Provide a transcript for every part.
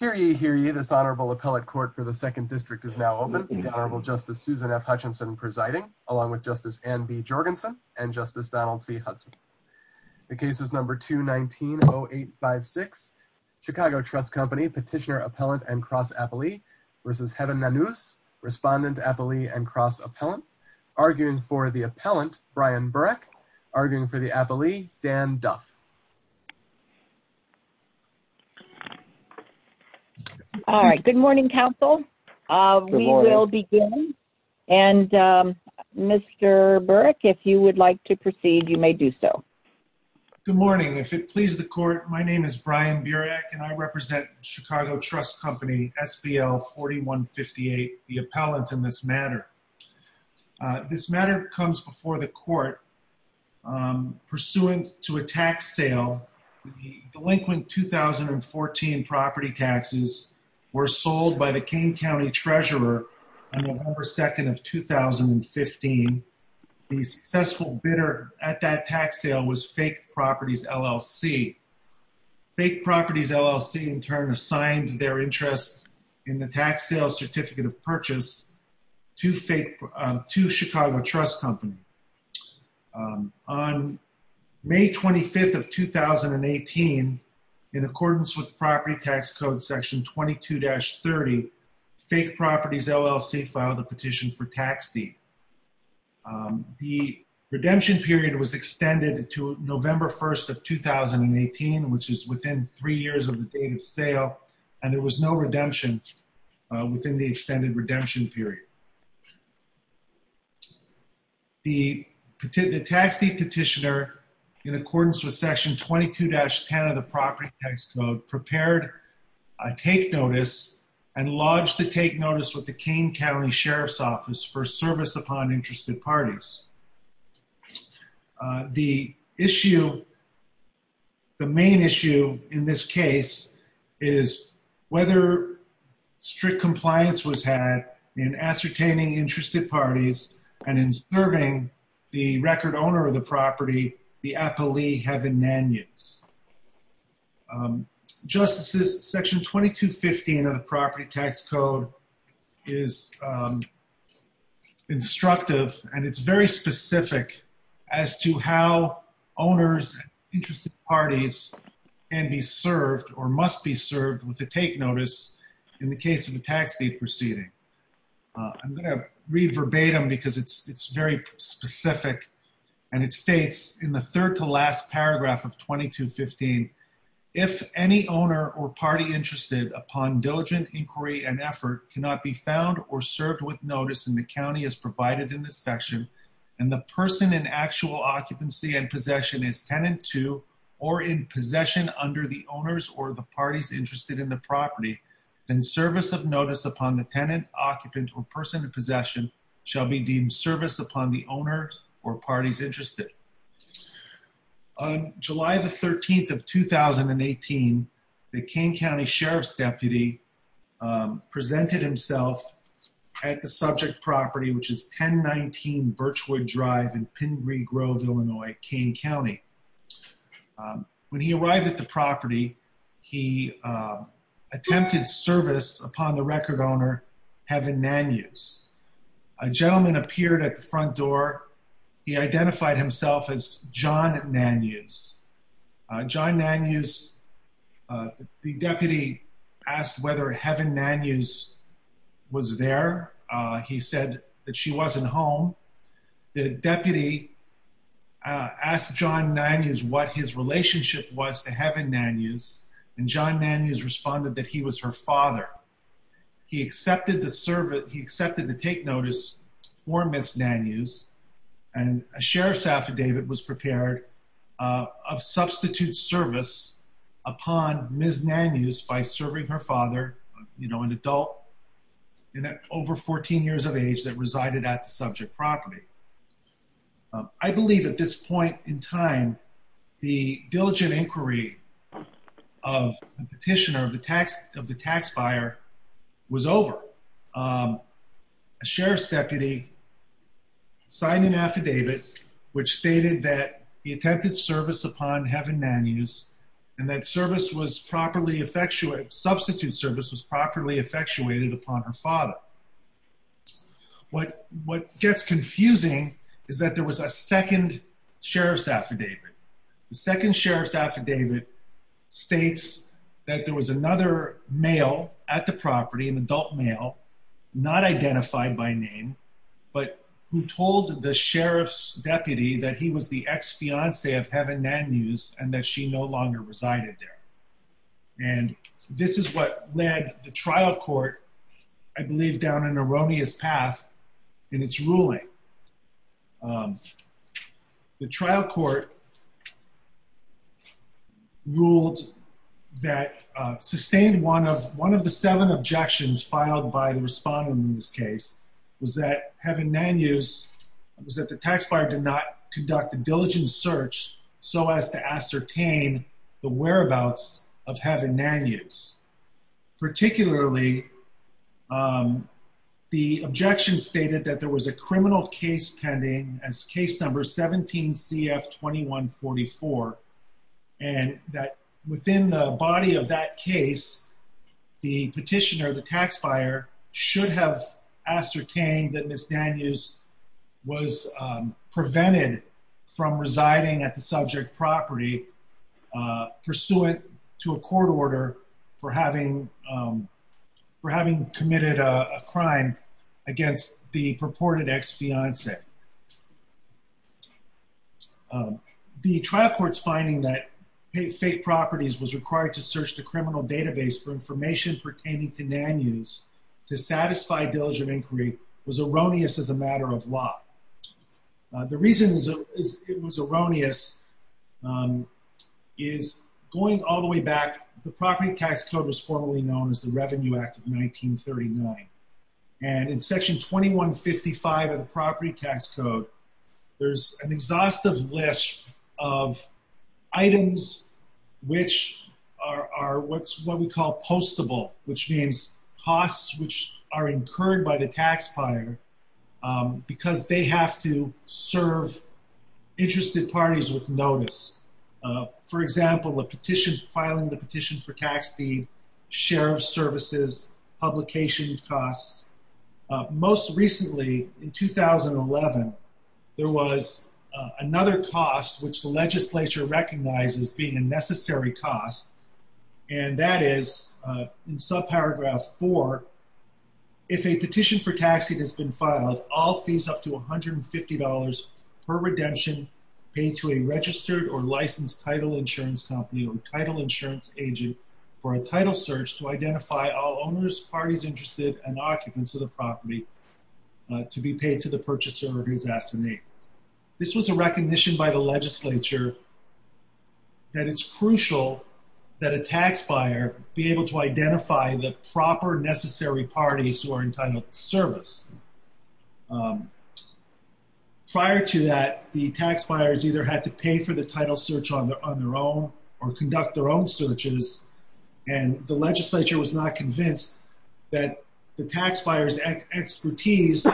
Hear ye, hear ye. This Honorable Appellate Court for the Second District is now open, with Honorable Justice Susan F. Hutchinson presiding, along with Justice Anne B. Jorgensen and Justice Donald C. Hudson. The case is number 219-0856, Chicago Trust Company, Petitioner, Appellant, and Cross Appellee v. Heaven Nanuz, Respondent, Appellee, and Cross Appellant, arguing for the Appellant, Brian Burak, arguing for the Appellee, Dan Duff. All right, good morning, counsel. Good morning. We will begin, and Mr. Burak, if you would like to proceed, you may do so. Good morning. If it pleases the Court, my name is Brian Burak, and I represent Chicago Trust Company, SBL 4158, the Appellant in this matter. This matter comes before the Court pursuant to a tax sale. The delinquent 2014 property taxes were sold by the Kane County Treasurer on November 2nd of 2015. The successful bidder at that tax sale was Fake Properties, LLC. Fake Properties, LLC, in turn, assigned their interest in the tax sale certificate of purchase to Chicago Trust Company. On May 25th of 2018, in accordance with Property Tax Code Section 22-30, Fake Properties, LLC, filed a petition for tax deed. The redemption period was extended to November 1st of 2018, which is within three years of the date of sale, and there was no redemption within the extended redemption period. The tax deed petitioner, in accordance with Section 22-10 of the Property Tax Code, prepared a take notice and lodged the take notice with the Kane County Sheriff's Office for service upon interested parties. The issue, the main issue in this case, is whether strict compliance was had in ascertaining interested parties and in serving the record owner of the property, the appellee, have been man-use. Justices, Section 22-15 of the Property Tax Code is instructive, and it's very specific as to how owners and interested parties can be served or must be served with a take notice in the case of a tax deed proceeding. I'm going to read verbatim because it's very specific, and it states in the third-to-last paragraph of 22-15, if any owner or party interested upon diligent inquiry and effort cannot be found or served with notice in the county as provided in this section, and the person in actual occupancy and possession is tenant to or in possession under the owners or the parties interested in the property, then service of notice upon the tenant, occupant, or person in possession shall be deemed service upon the owner or parties interested. On July the 13th of 2018, the Kane County Sheriff's Deputy presented himself at the subject property, which is 1019 Birchwood Drive in Pingree Grove, Illinois, Kane County. When he arrived at the property, he attempted service upon the record owner, Heaven Nanews. A gentleman appeared at the front door. He identified himself as John Nanews. John Nanews, the deputy asked whether Heaven Nanews was there. He said that she wasn't home. The deputy asked John Nanews what his relationship was to Heaven Nanews, and John Nanews responded that he was her father. He accepted to take notice for Ms. Nanews, and a sheriff's affidavit was prepared of substitute service upon Ms. Nanews by serving her father, an adult over 14 years of age that resided at the subject property. I believe at this point in time, the diligent inquiry of the petitioner, of the tax buyer, was over. A sheriff's deputy signed an affidavit which stated that he attempted service upon Heaven Nanews, and that substitute service was properly effectuated upon her father. What gets confusing is that there was a second sheriff's affidavit. The second sheriff's affidavit states that there was another male at the property, an adult male, not identified by name, but who told the sheriff's deputy that he was the ex-fiance of Heaven Nanews, and that she no longer resided there. This is what led the trial court, I believe, down an erroneous path in its ruling. The trial court ruled that, sustained one of the seven objections filed by the respondent in this case, was that Heaven Nanews, was that the tax buyer did not conduct a diligent search so as to ascertain the whereabouts of Heaven Nanews. Particularly, the objection stated that there was a criminal case pending as case number 17CF2144, and that within the body of that case, the petitioner, the tax buyer, should have ascertained that Ms. Nanews was prevented from residing at the subject property pursuant to a court order for having committed a crime against the purported ex-fiance. The trial court's finding that fake properties was required to search the criminal database for information pertaining to Nanews to satisfy diligent inquiry was erroneous as a matter of law. The reason it was erroneous is, going all the way back, the property tax code was formally known as the Revenue Act of 1939. And in section 2155 of the property tax code, there's an exhaustive list of items which are what we call postable, which means costs which are incurred by the tax buyer because they have to serve interested parties with notice. For example, filing the petition for tax deed, share of services, publication costs. Most recently, in 2011, there was another cost which the legislature recognized as being a necessary cost, and that is, in subparagraph 4, if a petition for tax deed has been filed, all fees up to $150 per redemption paid to a registered or licensed title insurance company or title insurance agent for a title search to identify all owners, parties interested, and occupants of the property to be paid to the purchaser or to his assignee. This was a recognition by the legislature that it's crucial that a tax buyer be able to identify the proper necessary parties who are entitled to service. Prior to that, the tax buyers either had to pay for the title search on their own or conduct their own searches, and the legislature was not convinced that the tax buyer's expertise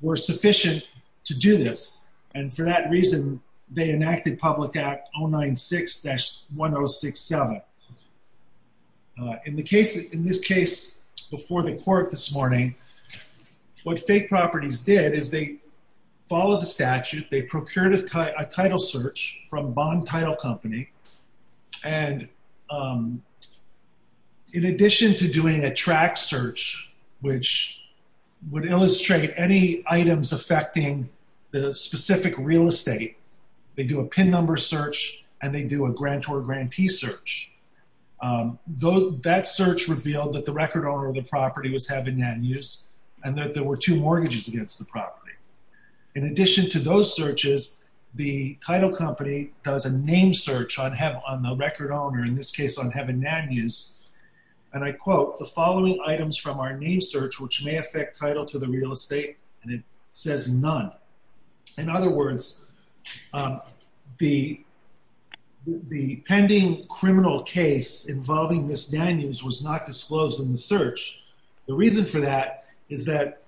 were sufficient to do this, and for that reason, they enacted Public Act 096-1067. In this case before the court this morning, what fake properties did is they followed the statute, they procured a title search from Bond Title Company, and in addition to doing a track search, which would illustrate any items affecting the specific real estate, they do a pin number search, and they do a grantor-grantee search. That search revealed that the record owner of the property was Heaven Nanews, and that there were two mortgages against the property. In addition to those searches, the title company does a name search on the record owner, in this case on Heaven Nanews, and I quote, the following items from our name search, which may affect title to the real estate, and it says none. In other words, the pending criminal case involving this Nanews was not disclosed in the search. The reason for that is that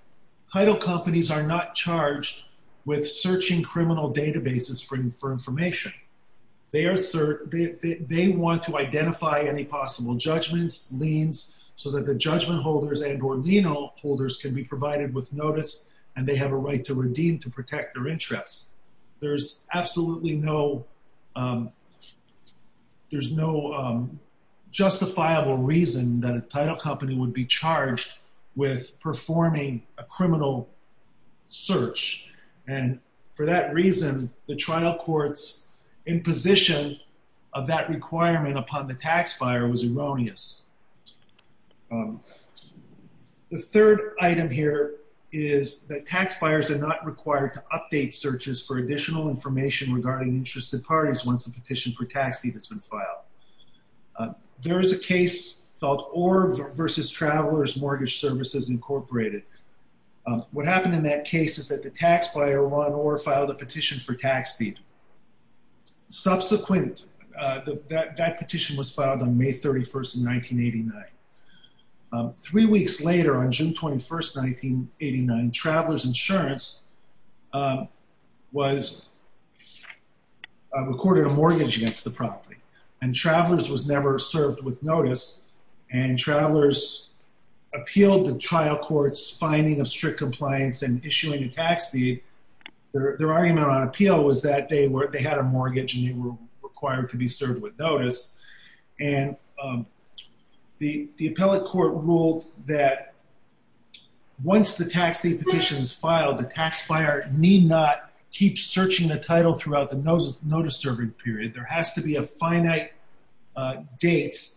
title companies are not charged with searching criminal databases for information. They want to identify any possible judgments, liens, so that the judgment holders and or lien holders can be provided with notice, and they have a right to redeem to protect their interests. There's absolutely no justifiable reason that a title company would be charged with performing a criminal search, and for that reason, the trial court's imposition of that requirement upon the tax buyer was erroneous. The third item here is that tax buyers are not required to update searches for additional information regarding interested parties once a petition for tax deed has been filed. There is a case called Orr versus Travelers Mortgage Services, Incorporated. What happened in that case is that the tax buyer, Ron Orr, filed a petition for tax deed. Subsequent, that petition was filed on May 31st, 1989. Three weeks later, on June 21st, 1989, Travelers Insurance was recorded a mortgage against the property, and Travelers was never served with notice, and Travelers appealed the trial court's finding of strict compliance and issuing a tax deed. Their argument on appeal was that they had a mortgage and they were required to be served with notice, and the appellate court ruled that once the tax deed petition is filed, the tax buyer need not keep searching the title throughout the notice-serving period. There has to be a finite date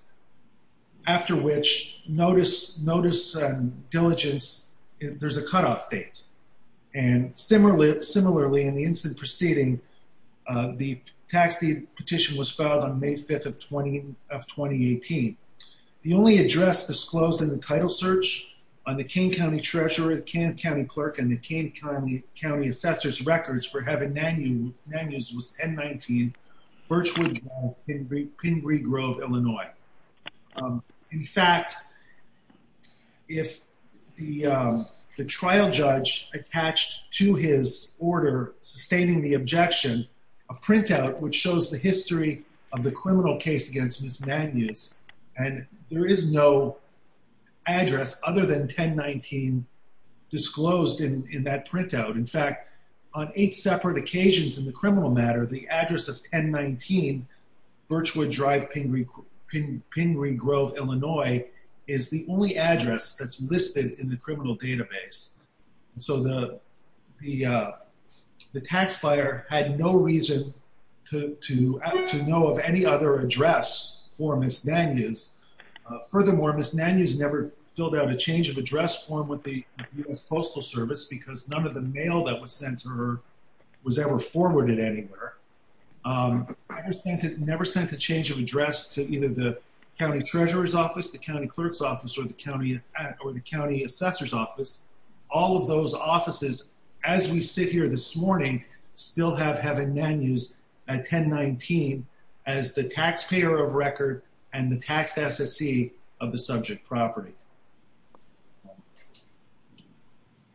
after which notice and diligence, there's a cutoff date. And similarly, in the incident preceding, the tax deed petition was filed on May 5th of 2018. The only address disclosed in the title search on the Kane County Treasurer, the Kane County Birchwood Grove, Pingree Grove, Illinois. In fact, if the trial judge attached to his order sustaining the objection, a printout which shows the history of the criminal case against Ms. Magnus, and there is no address other than 1019 disclosed in that printout, in fact, on eight separate occasions in the year 2018, Birchwood Drive, Pingree Grove, Illinois, is the only address that's listed in the criminal database. So the tax buyer had no reason to know of any other address for Ms. Magnus. Furthermore, Ms. Magnus never filled out a change of address form with the U.S. Postal Service, because none of the mail that was sent to her was ever forwarded anywhere, never sent a change of address to either the county treasurer's office, the county clerk's office, or the county assessor's office. All of those offices, as we sit here this morning, still have having Ms. Magnus at 1019 as the taxpayer of record and the tax SSE of the subject property.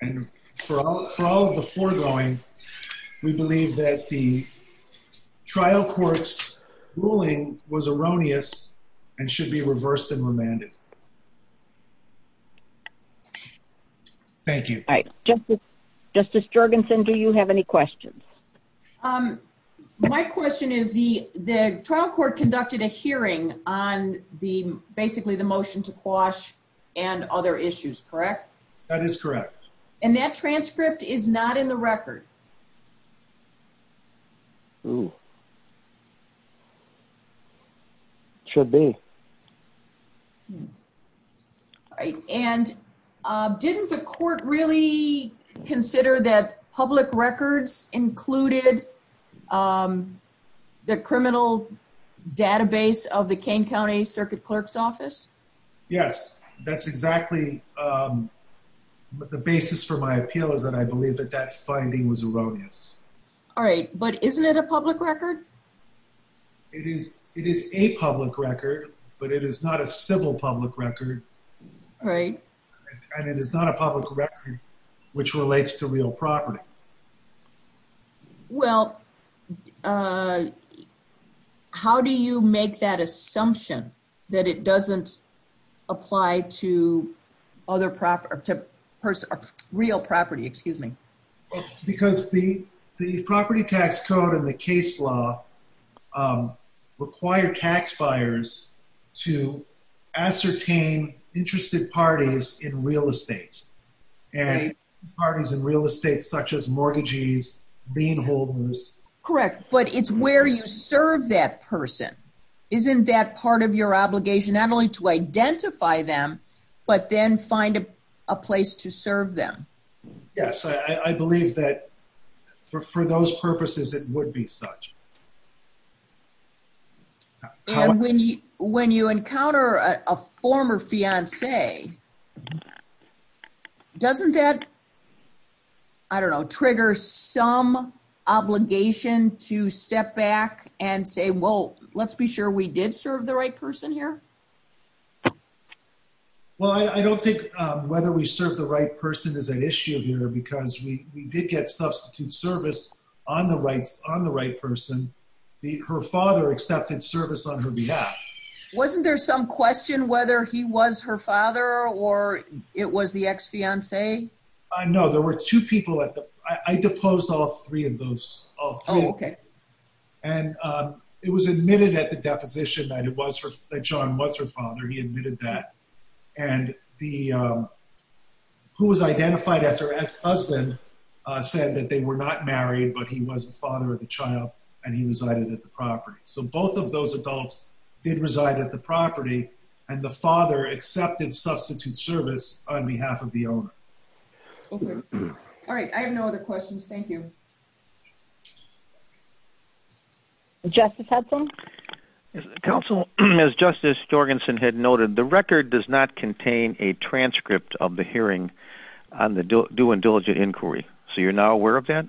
And for all of the foregoing, we believe that the trial court's ruling was erroneous and should be reversed and remanded. Thank you. All right. Justice Jorgensen, do you have any questions? My question is, the trial court conducted a hearing on basically the motion to quash and other issues, correct? That is correct. And that transcript is not in the record? It should be. All right. And didn't the court really consider that public records included the criminal database of the Kane County Circuit Clerk's Office? Yes. That's exactly the basis for my appeal, is that I believe that that finding was erroneous. All right. But isn't it a public record? It is a public record, but it is not a civil public record. Right. And it is not a public record which relates to real property. Well, how do you make that assumption that it doesn't apply to real property? Excuse me. Because the property tax code and the case law require tax buyers to ascertain interested parties in real estate, and parties in real estate such as mortgages, lien holders. Correct. But it's where you serve that person. Isn't that part of your obligation, not only to identify them, but then find a place to serve them? Yes. I believe that for those purposes, it would be such. And when you encounter a former fiancé, doesn't that, I don't know, trigger some obligation to step back and say, well, let's be sure we did serve the right person here? Well, I don't think whether we serve the right person is an issue here, because we did get substitute service on the right person. Her father accepted service on her behalf. Wasn't there some question whether he was her father or it was the ex-fiancé? No, there were two people at the, I deposed all three of those, all three. Oh, okay. And it was admitted at the deposition that John was her father, he admitted that. And the, who was identified as her ex-husband said that they were not married, but he was the father of the child, and he resided at the property. So both of those adults did reside at the property, and the father accepted substitute service on behalf of the owner. Okay. All right. I have no other questions. Thank you. Justice Hudson? Counsel, as Justice Jorgensen had noted, the record does not contain a transcript of the hearing on the due and diligent inquiry. So you're not aware of that?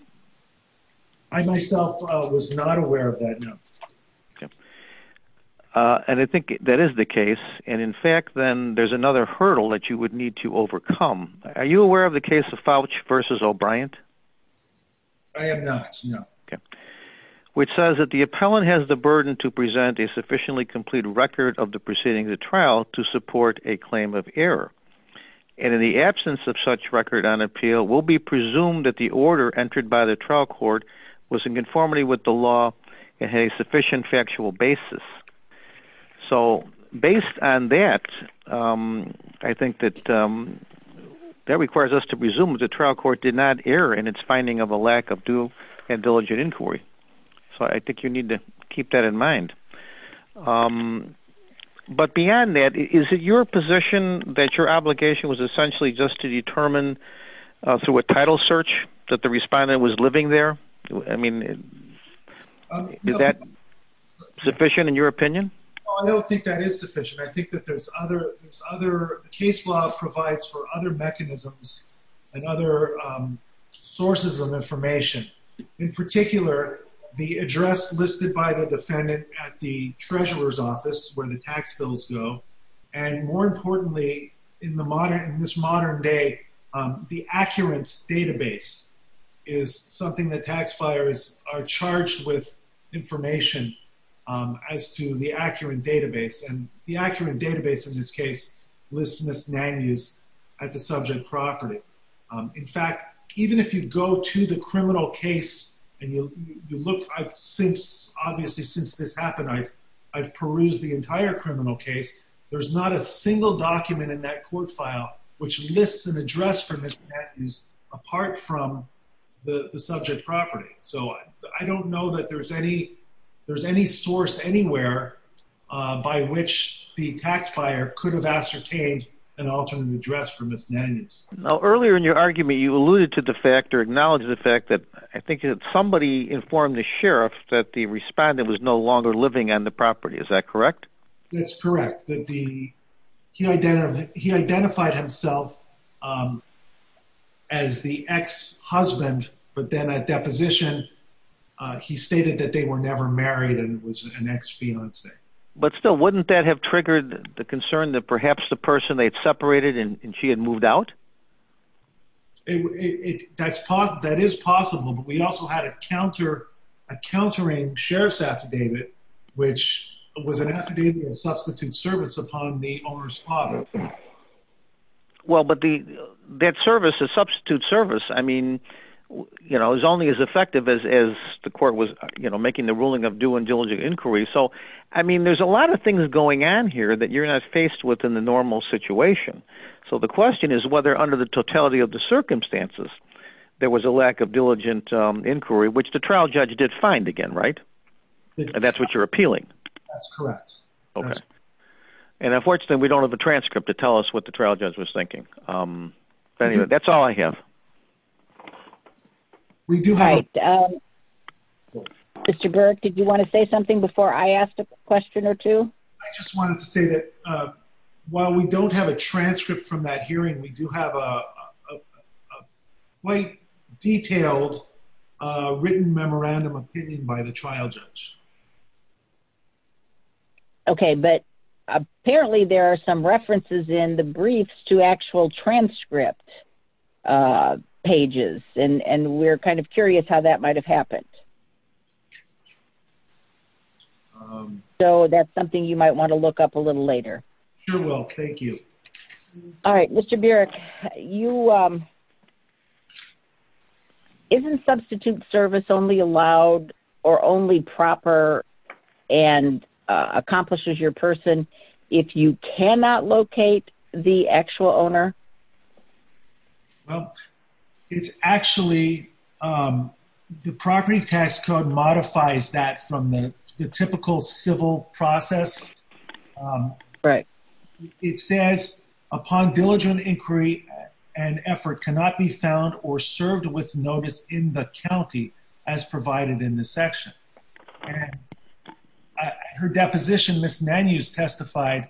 I myself was not aware of that, no. Okay. And I think that is the case. And in fact, then there's another hurdle that you would need to overcome. Are you aware of the case of Fouch v. O'Brient? I am not, no. Okay. Okay. Which says that the appellant has the burden to present a sufficiently complete record of the proceeding of the trial to support a claim of error, and in the absence of such record on appeal will be presumed that the order entered by the trial court was in conformity with the law and had a sufficient factual basis. So based on that, I think that that requires us to presume that the trial court did not err in its finding of a lack of due and diligent inquiry. So I think you need to keep that in mind. But beyond that, is it your position that your obligation was essentially just to determine through a title search that the respondent was living there? I mean, is that sufficient in your opinion? I don't think that is sufficient. I think that there's other case law provides for other mechanisms and other sources of information. In particular, the address listed by the defendant at the treasurer's office where the tax bills go, and more importantly, in this modern day, the accurate database is something that tax charged with information as to the accurate database. And the accurate database in this case lists misdemeanors at the subject property. In fact, even if you go to the criminal case and you look, obviously since this happened, I've perused the entire criminal case. There's not a single document in that court file which lists an address for misdemeanors apart from the subject property. So, I don't know that there's any source anywhere by which the tax buyer could have ascertained an alternate address for misdemeanors. Now, earlier in your argument, you alluded to the fact or acknowledged the fact that I think that somebody informed the sheriff that the respondent was no longer living on the property. Is that correct? That's correct. He identified himself as the ex-husband, but then at deposition, he stated that they were never married and was an ex-fiancée. But still, wouldn't that have triggered the concern that perhaps the person they'd separated and she had moved out? That is possible, but we also had a countering sheriff's affidavit, which was an affidavit of substitute service upon the owner's property. Well, but that substitute service is only as effective as the court was making the ruling of due and diligent inquiry. So, I mean, there's a lot of things going on here that you're not faced with in the normal situation. So the question is whether under the totality of the circumstances, there was a lack of diligent inquiry, which the trial judge did find again, right? That's what you're appealing. That's correct. Okay. And unfortunately, we don't have a transcript to tell us what the trial judge was thinking. That's all I have. All right. Mr. Burke, did you want to say something before I asked a question or two? I just wanted to say that while we don't have a transcript from that hearing, we do have a quite detailed written memorandum of opinion by the trial judge. Okay. But apparently, there are some references in the briefs to actual transcript pages, and we're kind of curious how that might have happened. So that's something you might want to look up a little later. Sure will. Thank you. All right. Mr. Burek, isn't substitute service only allowed or only proper and accomplishes your person if you cannot locate the actual owner? Well, it's actually the property tax code modifies that from the typical civil process. Right. It says upon diligent inquiry, an effort cannot be found or served with notice in the county as provided in the section. Her deposition, Ms. Nanus testified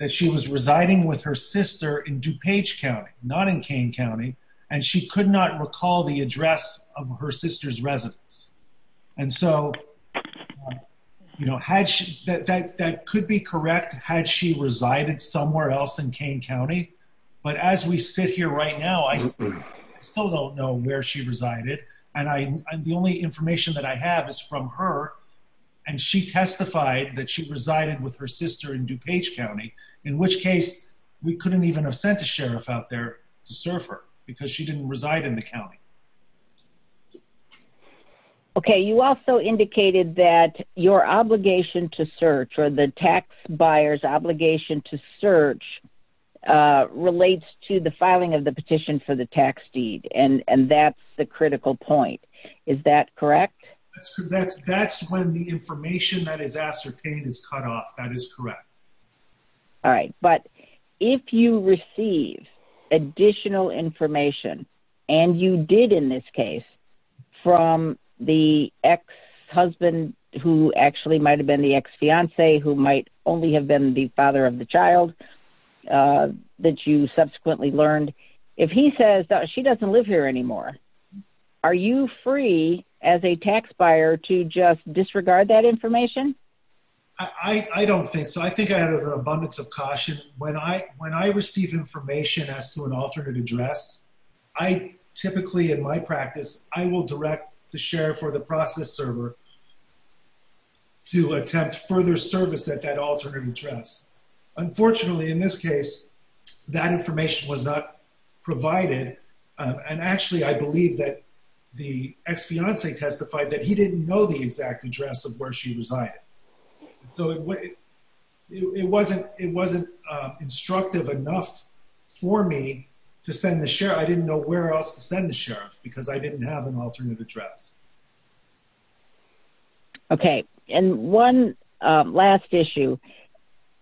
that she was residing with her sister in DuPage County, not in Kane County, and she could not recall the address of her sister's residence. And so, you know, that could be correct, had she resided somewhere else in Kane County. But as we sit here right now, I still don't know where she resided. And the only information that I have is from her, and she testified that she resided with her sister in DuPage County, in which case, we couldn't even have sent a sheriff out there to serve her because she didn't reside in the county. Okay, you also indicated that your obligation to search or the tax buyer's obligation to search relates to the filing of the petition for the tax deed. And that's the critical point. Is that correct? That's when the information that is ascertained is cut off. That is correct. All right. But if you receive additional information, and you did in this case, from the ex-husband, who actually might have been the ex-fiance, who might only have been the father of the child that you subsequently learned, if he says that she doesn't live here anymore, are you free as a tax buyer to just disregard that information? I don't think so. I think I had an abundance of caution. When I receive information as to an alternate address, I typically, in my practice, I will direct the sheriff or the process server to attempt further service at that alternate address. Unfortunately, in this case, that information was not provided. And actually, I believe that the ex-fiance testified that he didn't know the exact address of where she resided. So it wasn't instructive enough for me to send the sheriff. I didn't know where else to send the sheriff, because I didn't have an alternate address. Okay. And one last issue.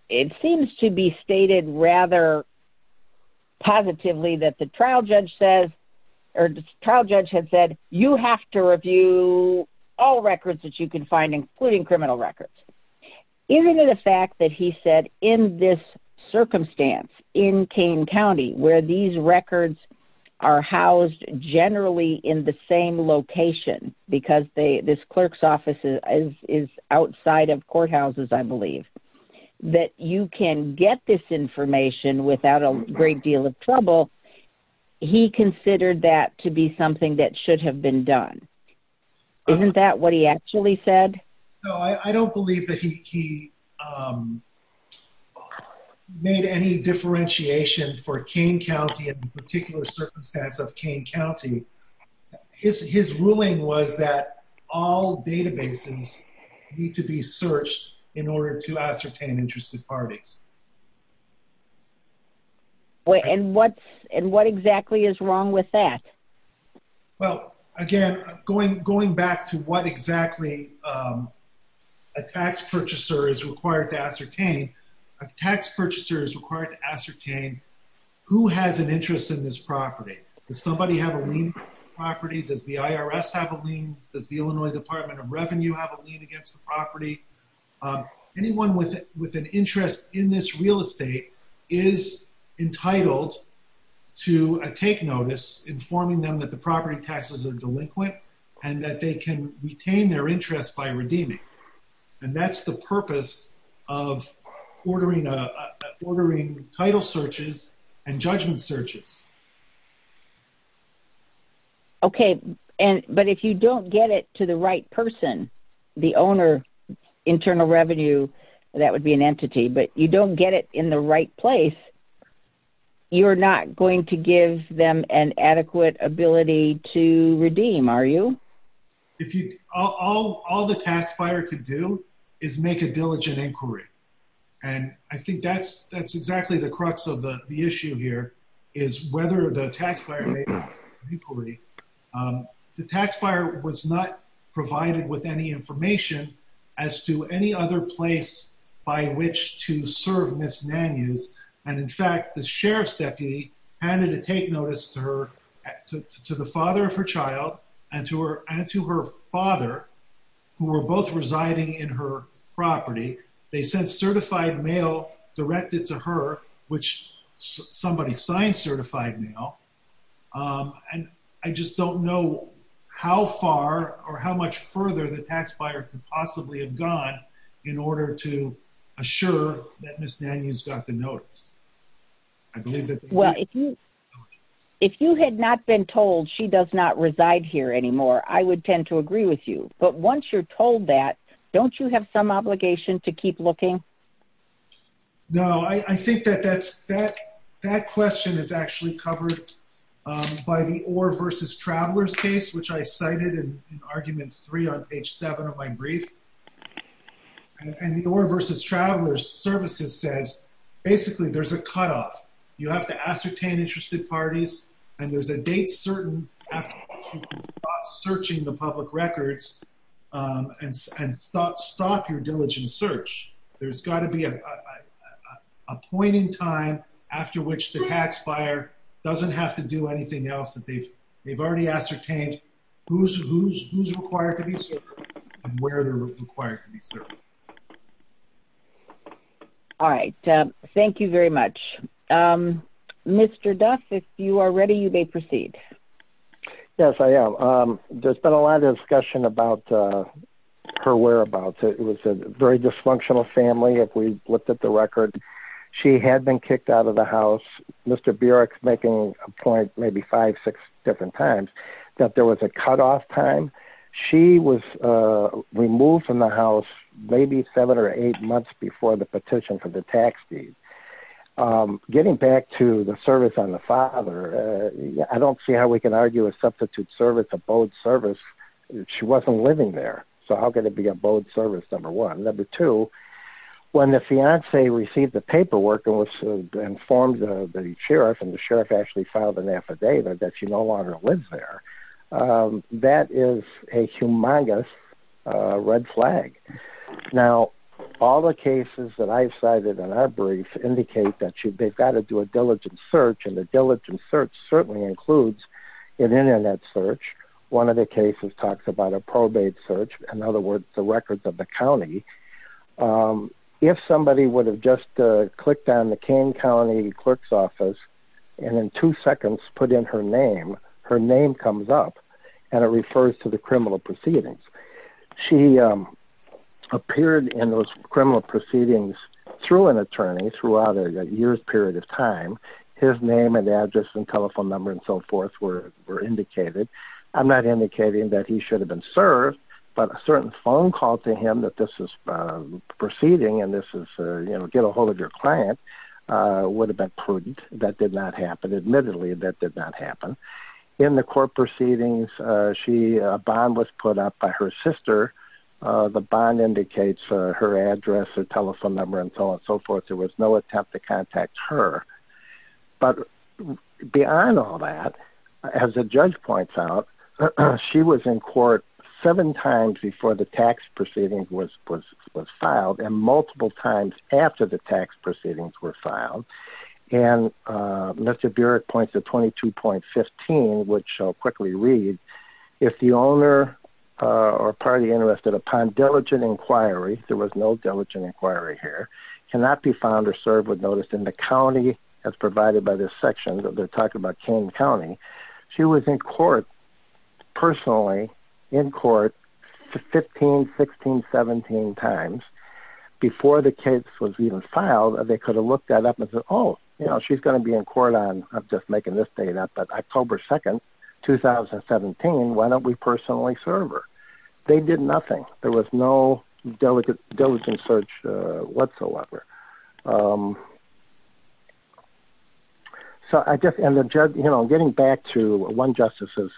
It seems to be stated rather positively that the trial judge had said, you have to review all records that you can find, including criminal records. Isn't it a fact that he said, in this circumstance, in Kane County, where these records are housed generally in the same location, because this clerk's office is outside of courthouses, I believe, that you can get this information without a great deal of trouble? He considered that to be something that should have been done. Isn't that what he actually said? No, I don't believe that he made any differentiation for Kane County and the particular circumstance of Kane County. His ruling was that all databases need to be searched in order to ascertain interested parties. And what exactly is wrong with that? Well, again, going back to what exactly a tax purchaser is required to ascertain, a tax purchaser is required to ascertain who has an interest in this property. Does somebody have a lien against the property? Does the IRS have a lien? Does the Illinois Department of Revenue have a lien against the property? Anyone with an interest in this real estate is entitled to take notice, informing them that the property taxes are delinquent and that they can retain their interest by redeeming. And that's the purpose of ordering title searches and judgment searches. Okay, but if you don't get it to the right person, the owner, Internal Revenue, that would be an entity, but you don't get it in the right place, you're not going to give them an adequate ability to redeem, are you? All the tax buyer could do is make a diligent inquiry. And I think that's exactly the crux of the issue here, is whether the tax buyer made an inquiry. The tax buyer was not provided with any information as to any other place by which to serve Ms. Nanews. And in fact, the sheriff's deputy handed a take notice to the father of her child and to her father, who were both residing in her property. They sent certified mail directed to her, which somebody signed certified mail. And I just don't know how far or how much further the tax buyer could possibly have gone in order to assure that Ms. Nanews got the notice. I believe that... If you had not been told she does not reside here anymore, I would tend to agree with you. But once you're told that, don't you have some obligation to keep looking? No, I think that that question is actually covered by the Orr versus Travelers case, which I cited in argument three on page seven of my brief. And the Orr versus Travelers services says, basically, there's a cutoff. You have to ascertain interested parties. And there's a date certain after people stop searching the public records and stop your diligent search. There's got to be a point in time after which the tax buyer doesn't have to do anything else that they've already ascertained who's required to be served and where they're required to be served. All right. Thank you very much. Mr. Duff, if you are ready, you may proceed. Yes, I am. There's been a lot of discussion about her whereabouts. It was a very dysfunctional family. If we looked at the record, she had been kicked out of the house. Mr. Burek's making a point maybe five, six different times that there was a cutoff time. She was removed from the house maybe seven or eight months before the petition for the tax deed. Getting back to the service on the father, I don't see how we can argue a substitute service, a bode service. She wasn't living there. So how could it be a bode service, number one? Number two, when the fiancee received the paperwork and informed the sheriff and the sheriff actually filed an affidavit that she no longer lives there, that is a humongous red flag. Now, all the cases that I cited in our brief indicate that they've got to do a diligent search, and the diligent search certainly includes an Internet search. One of the cases talks about a probate search. In other words, the records of the county. If somebody would have just clicked on the Kane County clerk's office and in two seconds put in her name, her name comes up and it refers to the criminal proceedings. She appeared in those criminal proceedings through an attorney throughout a year's period of time. His name and address and telephone number and so forth were indicated. I'm not indicating that he should have been served, but a certain phone call to him that this is proceeding and this is, you know, get a hold of your client would have been prudent. That did not happen. Admittedly, that did not happen. In the court proceedings, she bond was put up by her sister. The bond indicates her address, her telephone number and so on and so forth. There was no attempt to contact her. But beyond all that, as a judge points out, she was in court seven times before the tax proceedings was filed and multiple times after the tax proceedings were filed. And Mr. Burek points to 22.15, which I'll quickly read. If the owner or party interested upon diligent inquiry, there was no diligent inquiry here, cannot be found or served with notice in the county as provided by this section of the talk about Kane County. She was in court personally in court 15, 16, 17 times before the case was even filed. They could have looked that up and said, oh, you know, she's going to be in court on just making this data. But October 2nd, 2017, why don't we personally serve her? They did nothing. There was no diligent diligent search whatsoever. So I guess, you know, getting back to one justice's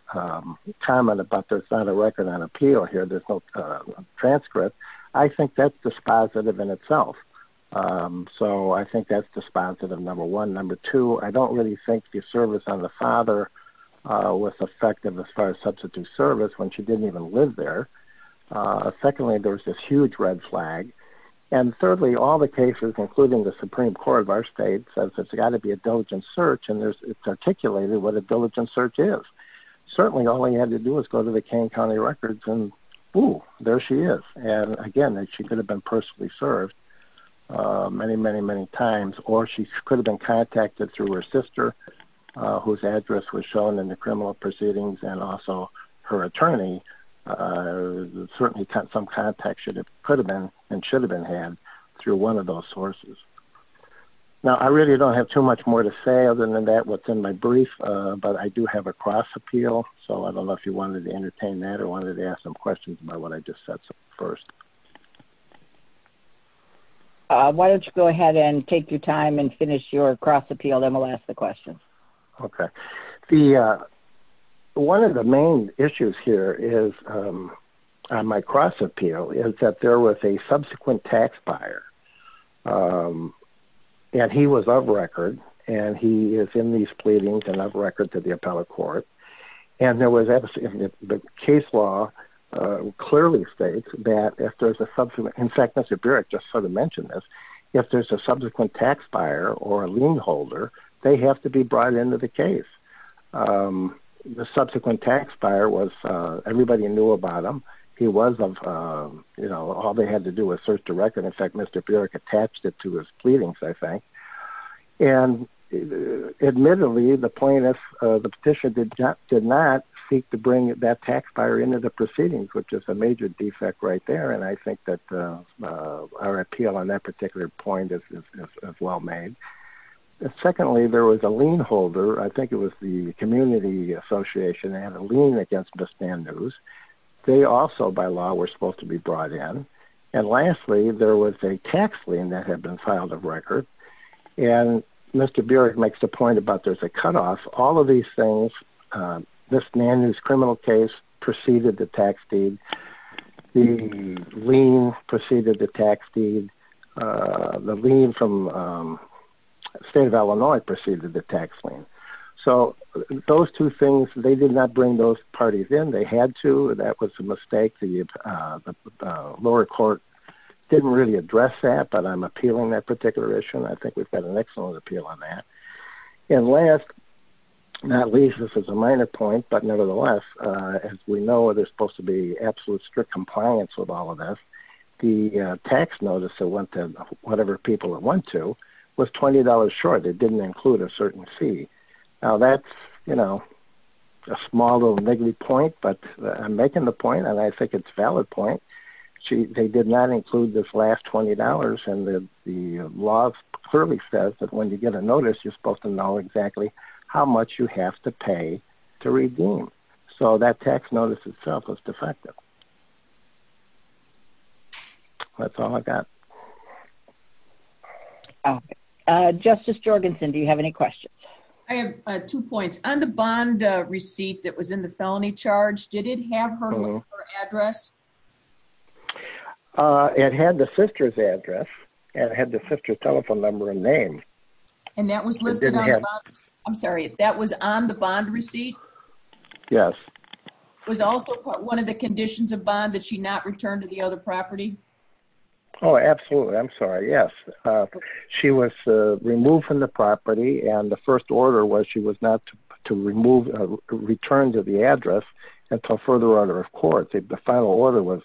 comment about there's not a record on appeal here, there's no transcript. I think that's dispositive in itself. Um, so I think that's dispositive. Number one, number two, I don't really think the service on the father, uh, was effective as far as substitute service when she didn't even live there. Uh, secondly, there was this huge red flag. And thirdly, all the cases, including the Supreme Court of our state says it's gotta be a diligent search. And there's, it's articulated what a diligent search is. Certainly all he had to do was go to the Kane County records and boom, there she is. And again, she could have been personally served, uh, many, many, many times, or she could have been contacted through her sister, uh, whose address was shown in the criminal proceedings. And also her attorney, uh, certainly cut some contact should have could have been, and should have been had through one of those sources. Now, I really don't have too much more to say other than that, what's in my brief. Uh, but I do have a cross appeal. So I don't know if you wanted to entertain that or wanted to ask some questions about what I just said. So first, uh, why don't you go ahead and take your time and finish your cross appeal? Then we'll ask the question. Okay. The, uh, one of the main issues here is, um, uh, my cross appeal is that there was a subsequent tax buyer. Um, and he was of record and he is in these pleadings and of record to the appellate court. And there was the case law, uh, clearly states that if there's a subsequent, in fact, Mr. Burek just sort of mentioned this, if there's a subsequent tax buyer or a lien holder, they have to be brought into the case. Um, the subsequent tax buyer was, uh, everybody knew about him. He was of, um, you know, all they had to do was search the record. In fact, Mr. Burek attached it to his pleadings, I think. And, uh, admittedly, the plaintiff, uh, the petition did not, did not seek to bring that tax buyer into the proceedings, which is a major defect right there. And I think that, uh, uh, our appeal on that particular point is, is, is, is well made. Secondly, there was a lien holder. I think it was the community association. They had a lien against Miss Mann News. They also by law were supposed to be brought in. And lastly, there was a tax lien that had been filed of record. And Mr. Burek makes the point about, there's a cutoff, all of these things. Um, this man is criminal case preceded the tax deed. The lien preceded the tax deed. Uh, the lien from, um, state of Illinois preceded the tax lien. So those two things, they did not bring those parties in. They had to, that was a mistake. The, uh, the, uh, lower court didn't really address that, but I'm appealing that particular issue. And I think we've got an excellent appeal on that. And last, not least, this is a minor point, but nevertheless, uh, as we know, there's supposed to be absolute strict compliance with all of this. The tax notice that went to whatever people that went to was $20 short. It didn't include a certain fee. Now that's, you know, a small little niggly point, but I'm making the point and I think it's valid point. They did not include this last $20 and the, the law clearly says that when you get a notice, you're supposed to know exactly how much you have to pay to redeem. So that tax notice itself was defective. That's all I got. Justice Jorgensen, do you have any questions? I have two points on the bond receipt that was in the felony charge. Did it have her address? Uh, it had the sister's address and had the sister telephone number and name. And that was listed. I'm sorry. That was on the bond receipt. Yes. Was also one of the conditions of bond that she not returned to the other property. Oh, absolutely. I'm sorry. Yes. She was removed from the property and the first order was, she was not to remove a return to the address until further order. The final order was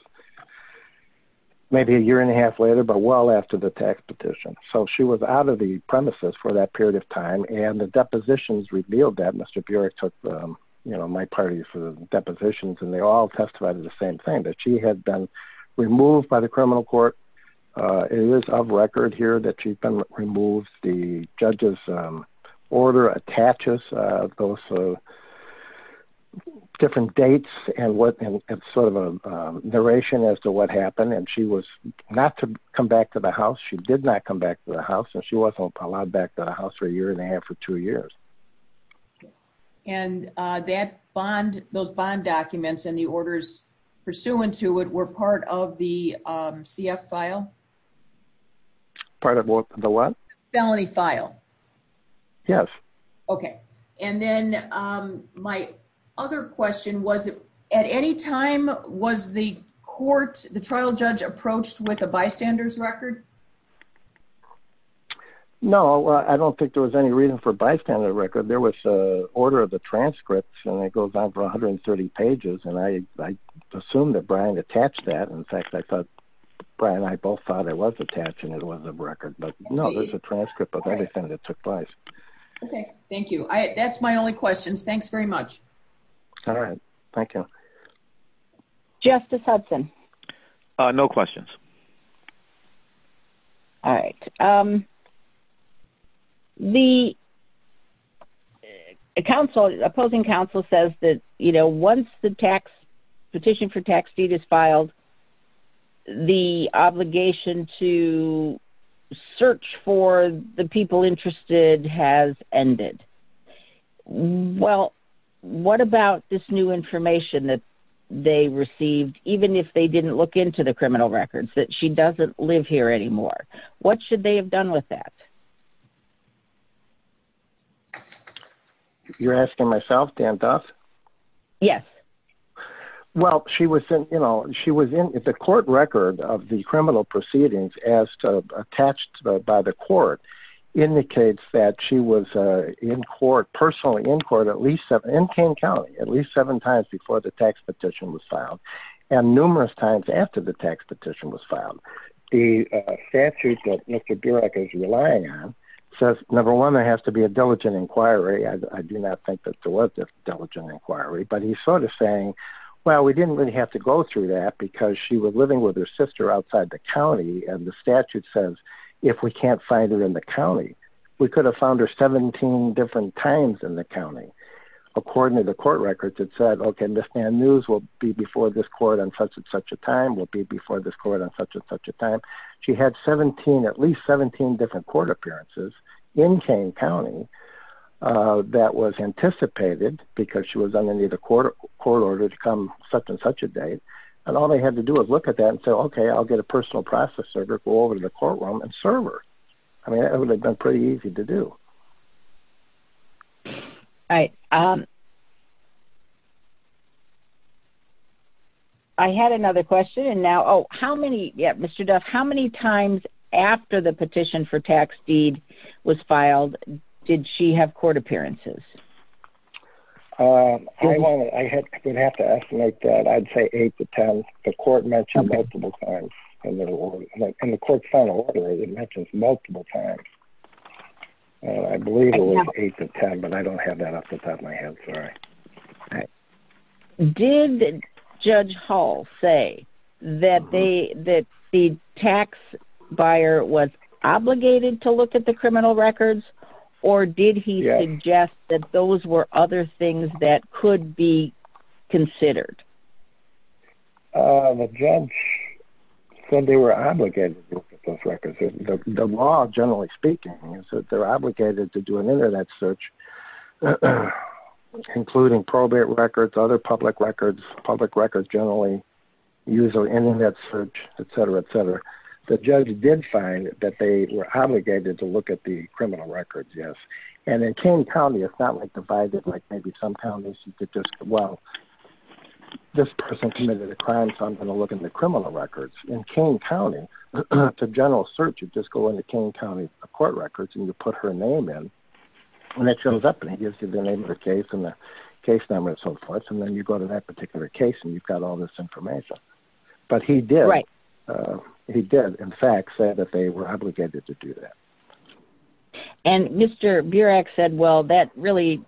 maybe a year and a half later, but well after the tax petition. So she was out of the premises for that period of time. And the depositions revealed that Mr. Burek took, um, you know, my party for the depositions and they all testified to the same thing that she had been removed by the criminal court. Uh, it is of record here that she's been removed. The judge's, um, order attaches, uh, those, uh, different dates and what, and it's sort of a, um, narration as to what happened. And she was not to come back to the house. She did not come back to the house and she wasn't allowed back to the house for a year and a half or two years. And, uh, that bond, those bond documents and the orders pursuant to it were part of the, um, CF file. Part of the what? Felony file. Yes. Okay. And then, um, my other question was at any time was the court, the trial judge approached with a bystander's record? No, I don't think there was any reason for bystander record. There was a order of the transcripts and it goes on for 130 pages. And I, I assumed that Brian attached that. In fact, I thought Brian, I both thought it was attached and it was a record, but no, it was a transcript of everything that took place. Okay. Thank you. That's my only questions. Thanks very much. All right. Thank you. Justice Hudson. No questions. All right. Um, the council opposing council says that, you know, once the tax petition for tax deed is filed, the obligation to search for the people interested has ended. Well, what about this new information that they received, even if they didn't look into the criminal records that she doesn't live here anymore? What should they have done with that? You're asking myself, Dan Duff. Yes. Well, she was in, you know, she was in the court record of the criminal proceedings as attached to the, by the court indicates that she was, uh, in court personally in court, at least seven in Kane County, at least seven times before the tax petition was filed. And numerous times after the tax petition was filed, the statute that Mr. Burek is relying on says, number one, there has to be a diligent inquiry. I do not think that there was this diligent inquiry, but he's sort of saying, well, we didn't really have to go through that because she was living with her sister outside the County. And the statute says, if we can't find it in the County, we could have found her 17 different times in the County, according to the court records that said, okay, this man news will be before this court on such and such a time will be before this court on such and such a time. She had 17, at least 17 different court appearances in Kane County, uh, that was anticipated because she was underneath the court court order to come such and such a date. And all they had to do is look at that and say, okay, I'll get a personal process server, go over to the courtroom and server. I mean, that would have been pretty easy to do. All right. I had another question and now, oh, how many, yeah, Mr. Duff, how many times after the petition for tax deed was filed, did she have court appearances? Um, I had, we'd have to estimate that I'd say eight to 10, the court mentioned multiple times in the court final order that mentions multiple times. And I believe it was eight to 10, but I don't have that off the top of my head. Sorry. Did judge Hall say that they, that the tax buyer was obligated to look at the criminal records or did he suggest that those were other things that could be considered? Uh, the judge said they were obligated to look at those records. The law generally speaking is that they're obligated to do an internet search, including probate records, other public records, public records, generally user internet search, et cetera, et cetera. The judge did find that they were obligated to look at the criminal records. Yes. And in Kane County, it's not like divided, like maybe some counties that just, well, this person committed a crime. So I'm going to look in the criminal records in Kane County to general search. You just go into Kane County court records and you put her name in. When that shows up and he gives you the name of the case and the case number and so forth. And then you go to that particular case and you've got all this information, but he did, he did in fact say that they were obligated to do that. And Mr. Burek said, well, that really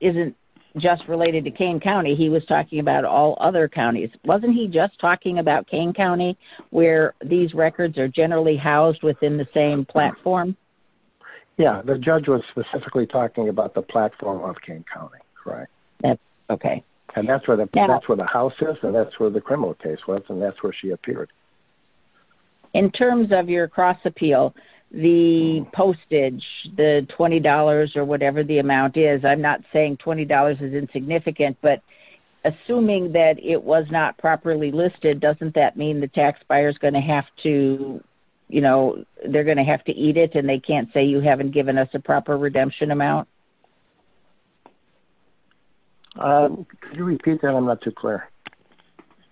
isn't just related to Kane County. He was talking about all other counties. Wasn't he just talking about Kane County where these records are generally housed within the same platform? Yeah. The judge was specifically talking about the platform of Kane County. Right. That's okay. And that's where the house is and that's where the criminal case was. And that's where she appeared. In terms of your cross appeal, the postage, the $20 or whatever the amount is, I'm not saying $20 is insignificant, but assuming that it was not properly listed, doesn't that mean the tax buyer is going to have to, you know, they're going to have to eat it and they can't say, you haven't given us a proper redemption amount. Can you repeat that? I'm not too clear.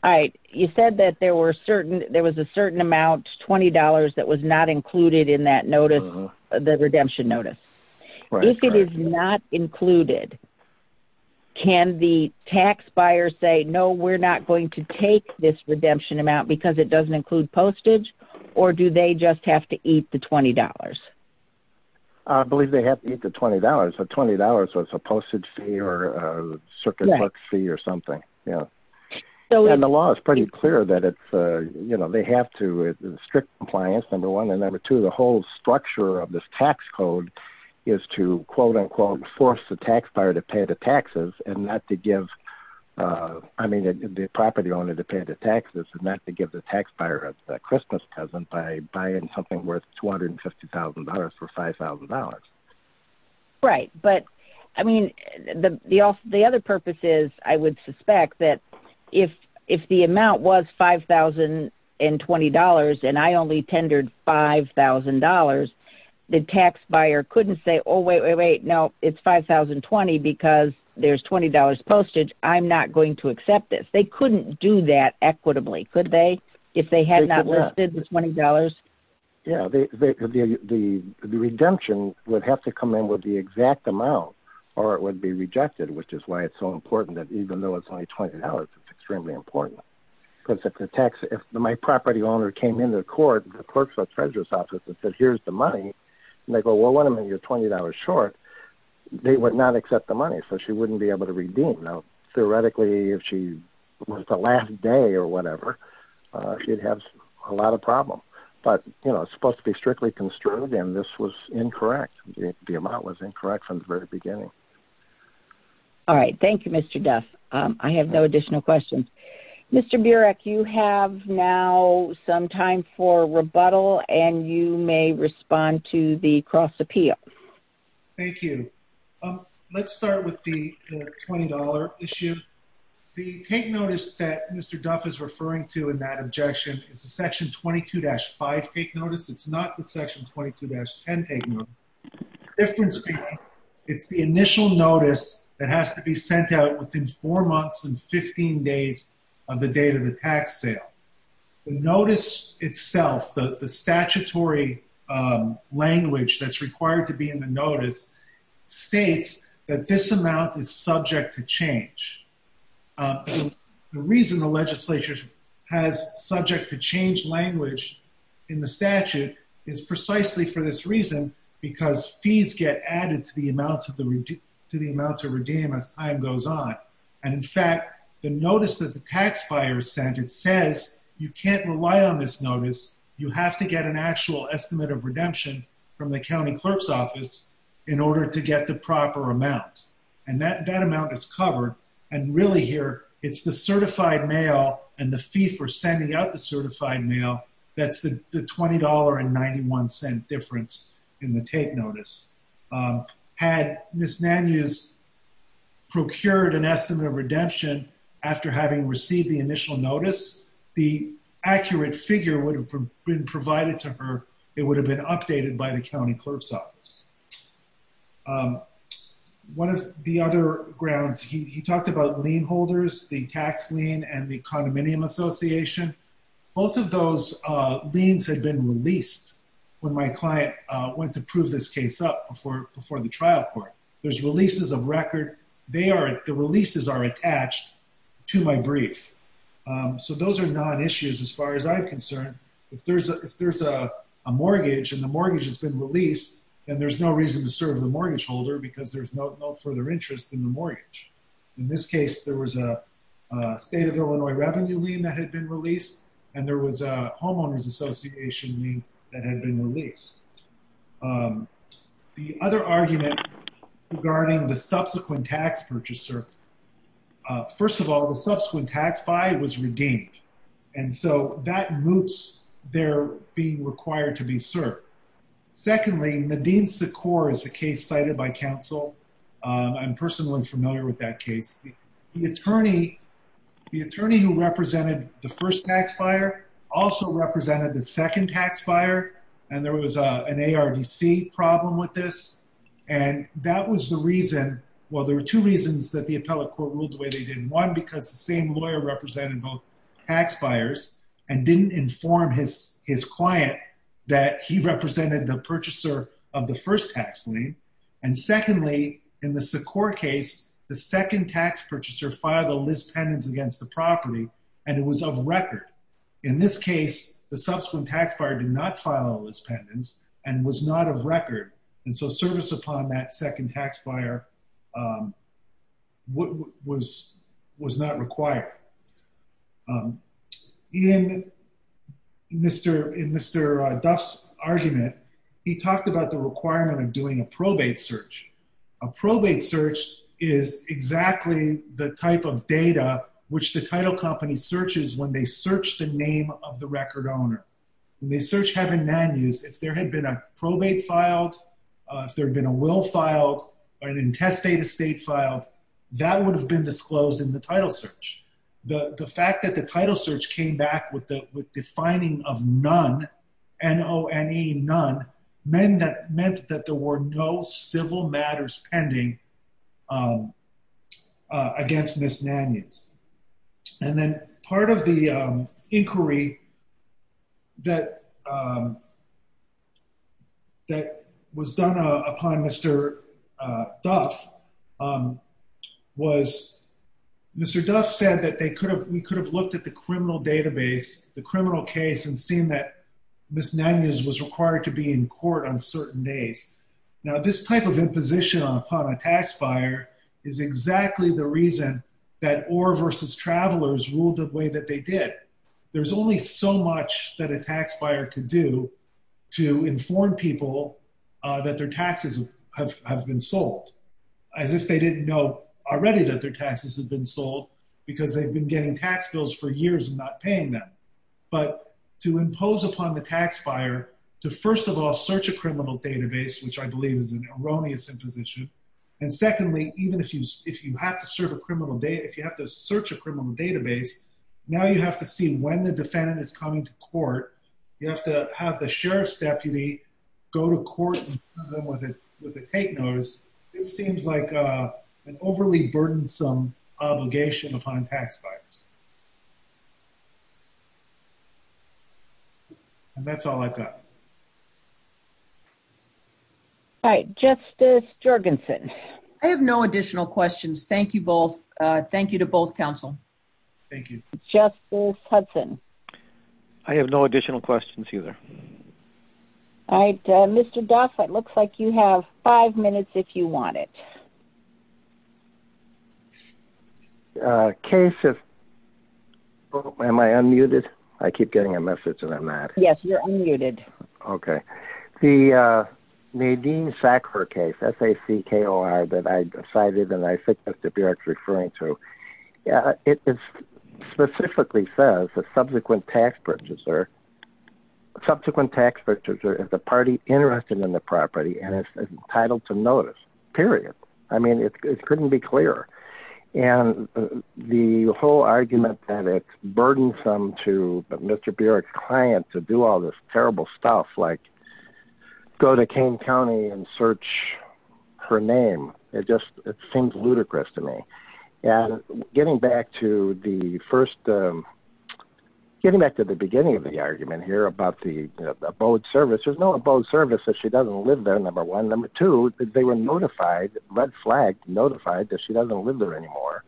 All right. You said that there were certain, there was a certain amount, $20 that was not included in that notice, the redemption notice. If it is not included, can the tax buyer say, no, we're not going to take this redemption amount because it doesn't include postage or do they just have to eat the $20? I believe they have to eat the $20. So $20 was a postage fee or a circuit book fee or something. Yeah. And the law is pretty clear that it's, you know, they have to strict compliance. Number one, and number two, the whole structure of this tax code is to quote unquote, force the tax buyer to pay the taxes and not to give, I mean, the property owner to pay the taxes and not to give the tax buyer a Christmas present by buying something worth $250,000 for $5,000. Right. But I mean, the, the, the other purpose is I would suspect that if, if the amount was $5,020 and I only tendered $5,000, the tax buyer couldn't say, oh, wait, wait, wait, no, it's $5,020 because there's $20 postage. I'm not going to accept this. They couldn't do that equitably. Could they, if they had not listed the $20? Yeah, the, the, the, the, the redemption would have to come in with the exact amount or it would be rejected, which is why it's so important that even though it's only $20, it's extremely important because if the tax, if my property owner came into court, the clerks or treasurer's office that says, here's the money and they go, well, what do you mean you're $20 short? They would not accept the money. So she wouldn't be able to redeem. Theoretically, if she was the last day or whatever, she'd have a lot of problem, but you know, it's supposed to be strictly construed. And this was incorrect. The amount was incorrect from the very beginning. All right. Thank you, Mr. Duff. I have no additional questions. Mr. Burek, you have now some time for rebuttal and you may respond to the cross appeal. Thank you. Let's start with the $20 issue. The take notice that Mr. Duff is referring to in that objection, it's a section 22-5 take notice. It's not the section 22-10 take notice. Difference being, it's the initial notice that has to be sent out within four months and 15 days of the date of the tax sale. The notice itself, the statutory language that's required to be in the notice, states that this amount is subject to change. The reason the legislature has subject to change language in the statute is precisely for this reason, because fees get added to the amount to redeem as time goes on. And in fact, the notice that the tax buyer sent, it says you can't rely on this notice. You have to get an actual estimate of redemption from the county clerk's office in order to get the proper amount. And that amount is covered. And really here, it's the certified mail and the fee for sending out the certified mail. That's the $20.91 difference in the take notice. Had Ms. Nanews procured an estimate of redemption after having received the initial notice, the accurate figure would have been provided to her. It would have been updated by the county clerk's office. One of the other grounds, he talked about lien holders, the tax lien and the condominium association. Both of those liens had been released when my client went to prove this case up before the trial court. There's releases of record. The releases are attached to my brief. So those are non-issues as far as I'm concerned. If there's a mortgage and the mortgage has been released, then there's no reason to serve the mortgage holder because there's no further interest in the mortgage. In this case, there was a state of Illinois revenue lien that had been released. And there was a homeowner's association lien that had been released. The other argument regarding the subsequent tax purchaser. First of all, the subsequent tax buy was redeemed. And so that moots they're being required to be served. Secondly, Nadine Secor is a case cited by counsel. I'm personally familiar with that case. The attorney who represented the first tax buyer also represented the second tax buyer. And there was an ARDC problem with this. And that was the reason, well, there were two reasons that the appellate court ruled the way they did. One, because the same lawyer represented both tax buyers and didn't inform his client that he represented the purchaser of the first tax lien. And secondly, in the Secor case, the second tax purchaser filed a lis pendens against the property and it was of record. In this case, the subsequent tax buyer did not file a lis pendens and was not of record. And so service upon that second tax buyer was not required. In Mr. Duff's argument, he talked about the requirement of doing a probate search. A probate search is exactly the type of data which the title company searches when they search the name of the record owner. When they search heaven and man use, if there had been a probate filed, if there'd been a will filed, or an intestate estate filed, that would have been disclosed in the title search. The fact that the title search came back with the defining of none, N-O-N-E, none, meant that there were no civil matters pending against Ms. Nanus. And then part of the inquiry that was done upon Mr. Duff was Mr. Duff said that we could have looked at the criminal database, the criminal case, and seen that Ms. Nanus was required to be in court on certain days. Now, this type of imposition upon a tax buyer is exactly the reason that Oar versus Travelers ruled the way that they did. There's only so much that a tax buyer could do to inform people that their taxes have been sold, as if they didn't know already that their taxes have been sold because they've been getting tax bills for years and not paying them. But to impose upon the tax buyer to first of all, search a criminal database, which I believe is an erroneous imposition. And secondly, even if you have to search a criminal database, now you have to see when the defendant is coming to court. You have to have the sheriff's deputy go to court with a take notice. It seems like an overly burdensome obligation upon tax buyers. And that's all I've got. All right, Justice Jorgensen. I have no additional questions. Thank you both. Thank you to both counsel. Justice Hudson. I have no additional questions either. All right, Mr. Duff, it looks like you have five minutes if you want it. A case of... Am I unmuted? I keep getting a message and I'm not. Yes, you're unmuted. Okay. The Nadine Sackler case, S-A-C-K-L-R that I cited and I think that's what you're referring to. It specifically says the subsequent tax purchaser... Subsequent tax purchaser is the party interested in the property and is entitled to notice, period. I mean, it couldn't be clearer. And the whole argument that it's burdensome to Mr. Burek's client to do all this terrible stuff like go to Kane County and search her name. It just, it seems ludicrous to me. And getting back to the first... Getting back to the beginning of the argument here about the abode service. There's no abode service if she doesn't live there, number one. Number two, they were notified, red flag notified that she doesn't live there anymore.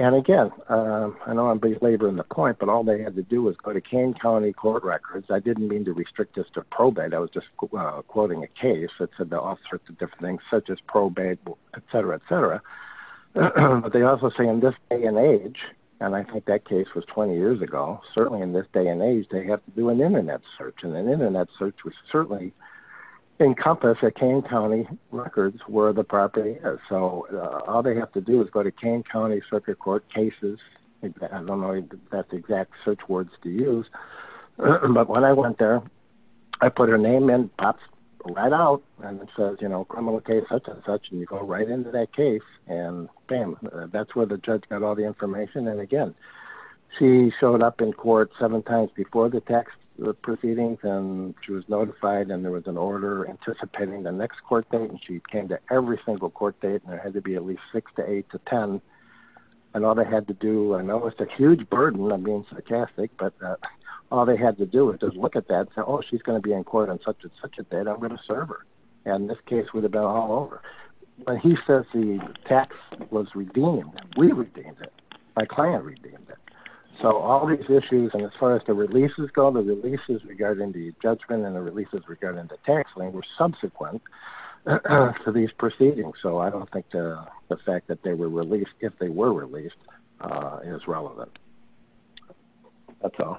And again, I know I'm belaboring the point but all they had to do was go to Kane County court records. I didn't mean to restrict us to probate. I was just quoting a case that said there are all sorts of different things such as probate, et cetera, et cetera. But they also say in this day and age and I think that case was 20 years ago. Certainly in this day and age they have to do an internet search. And an internet search would certainly encompass that Kane County records were the property. So all they have to do is go to Kane County circuit court cases. I don't know if that's exact search words to use. But when I went there, I put her name in, pops right out and it says criminal case such and such. And you go right into that case and bam, that's where the judge got all the information. And again, she showed up in court seven times before the tax proceedings and she was notified and there was an order anticipating the next court date. And she came to every single court date and there had to be at least six to eight to 10. And all they had to do, I know it's a huge burden. I'm being sarcastic, but all they had to do is just look at that and say, oh, she's gonna be in court on such and such a date, I'm gonna serve her. And this case was about all over. But he says the tax was redeemed. We redeemed it, my client redeemed it. So all these issues and as far as the releases go, the releases regarding the judgment and the releases regarding the tax lane were subsequent to these proceedings. So I don't think the fact that they were released if they were released is relevant, that's all.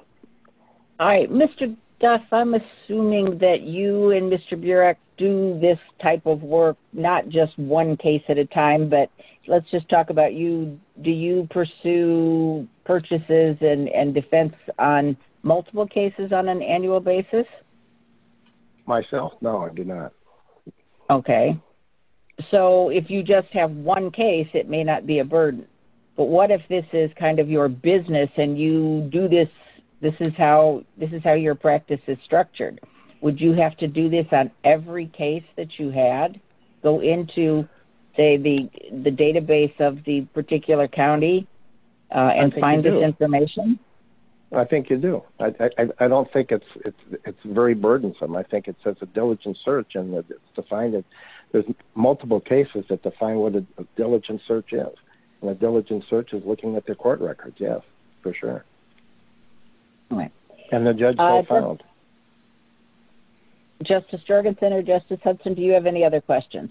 All right, Mr. Duff, I'm assuming that you and Mr. Burek do this type of work not just one case at a time, but let's just talk about you. Do you pursue purchases and defense on multiple cases on an annual basis? Myself, no, I do not. Okay, so if you just have one case, it may not be a burden. But what if this is kind of your business and you do this, this is how your practice is structured. Would you have to do this on every case that you had? Go into, say, the database of the particular county and find this information? I think you do. I don't think it's very burdensome. I think it says a diligent search and it's defined that there's multiple cases that define what a diligent search is. And a diligent search is looking at their court records, yes, for sure. All right. And the judge will file. Justice Jorgensen or Justice Hudson, do you have any other questions?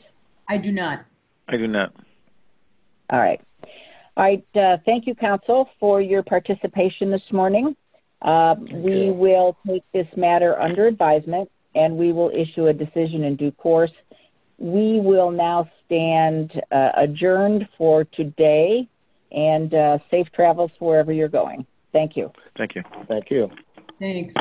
I do not. I do not. All right. All right. Thank you, counsel, for your participation this morning. We will take this matter under advisement and we will issue a decision in due course. We will now stand adjourned for today and safe travels wherever you're going. Thank you. Thank you. Thank you. Thanks.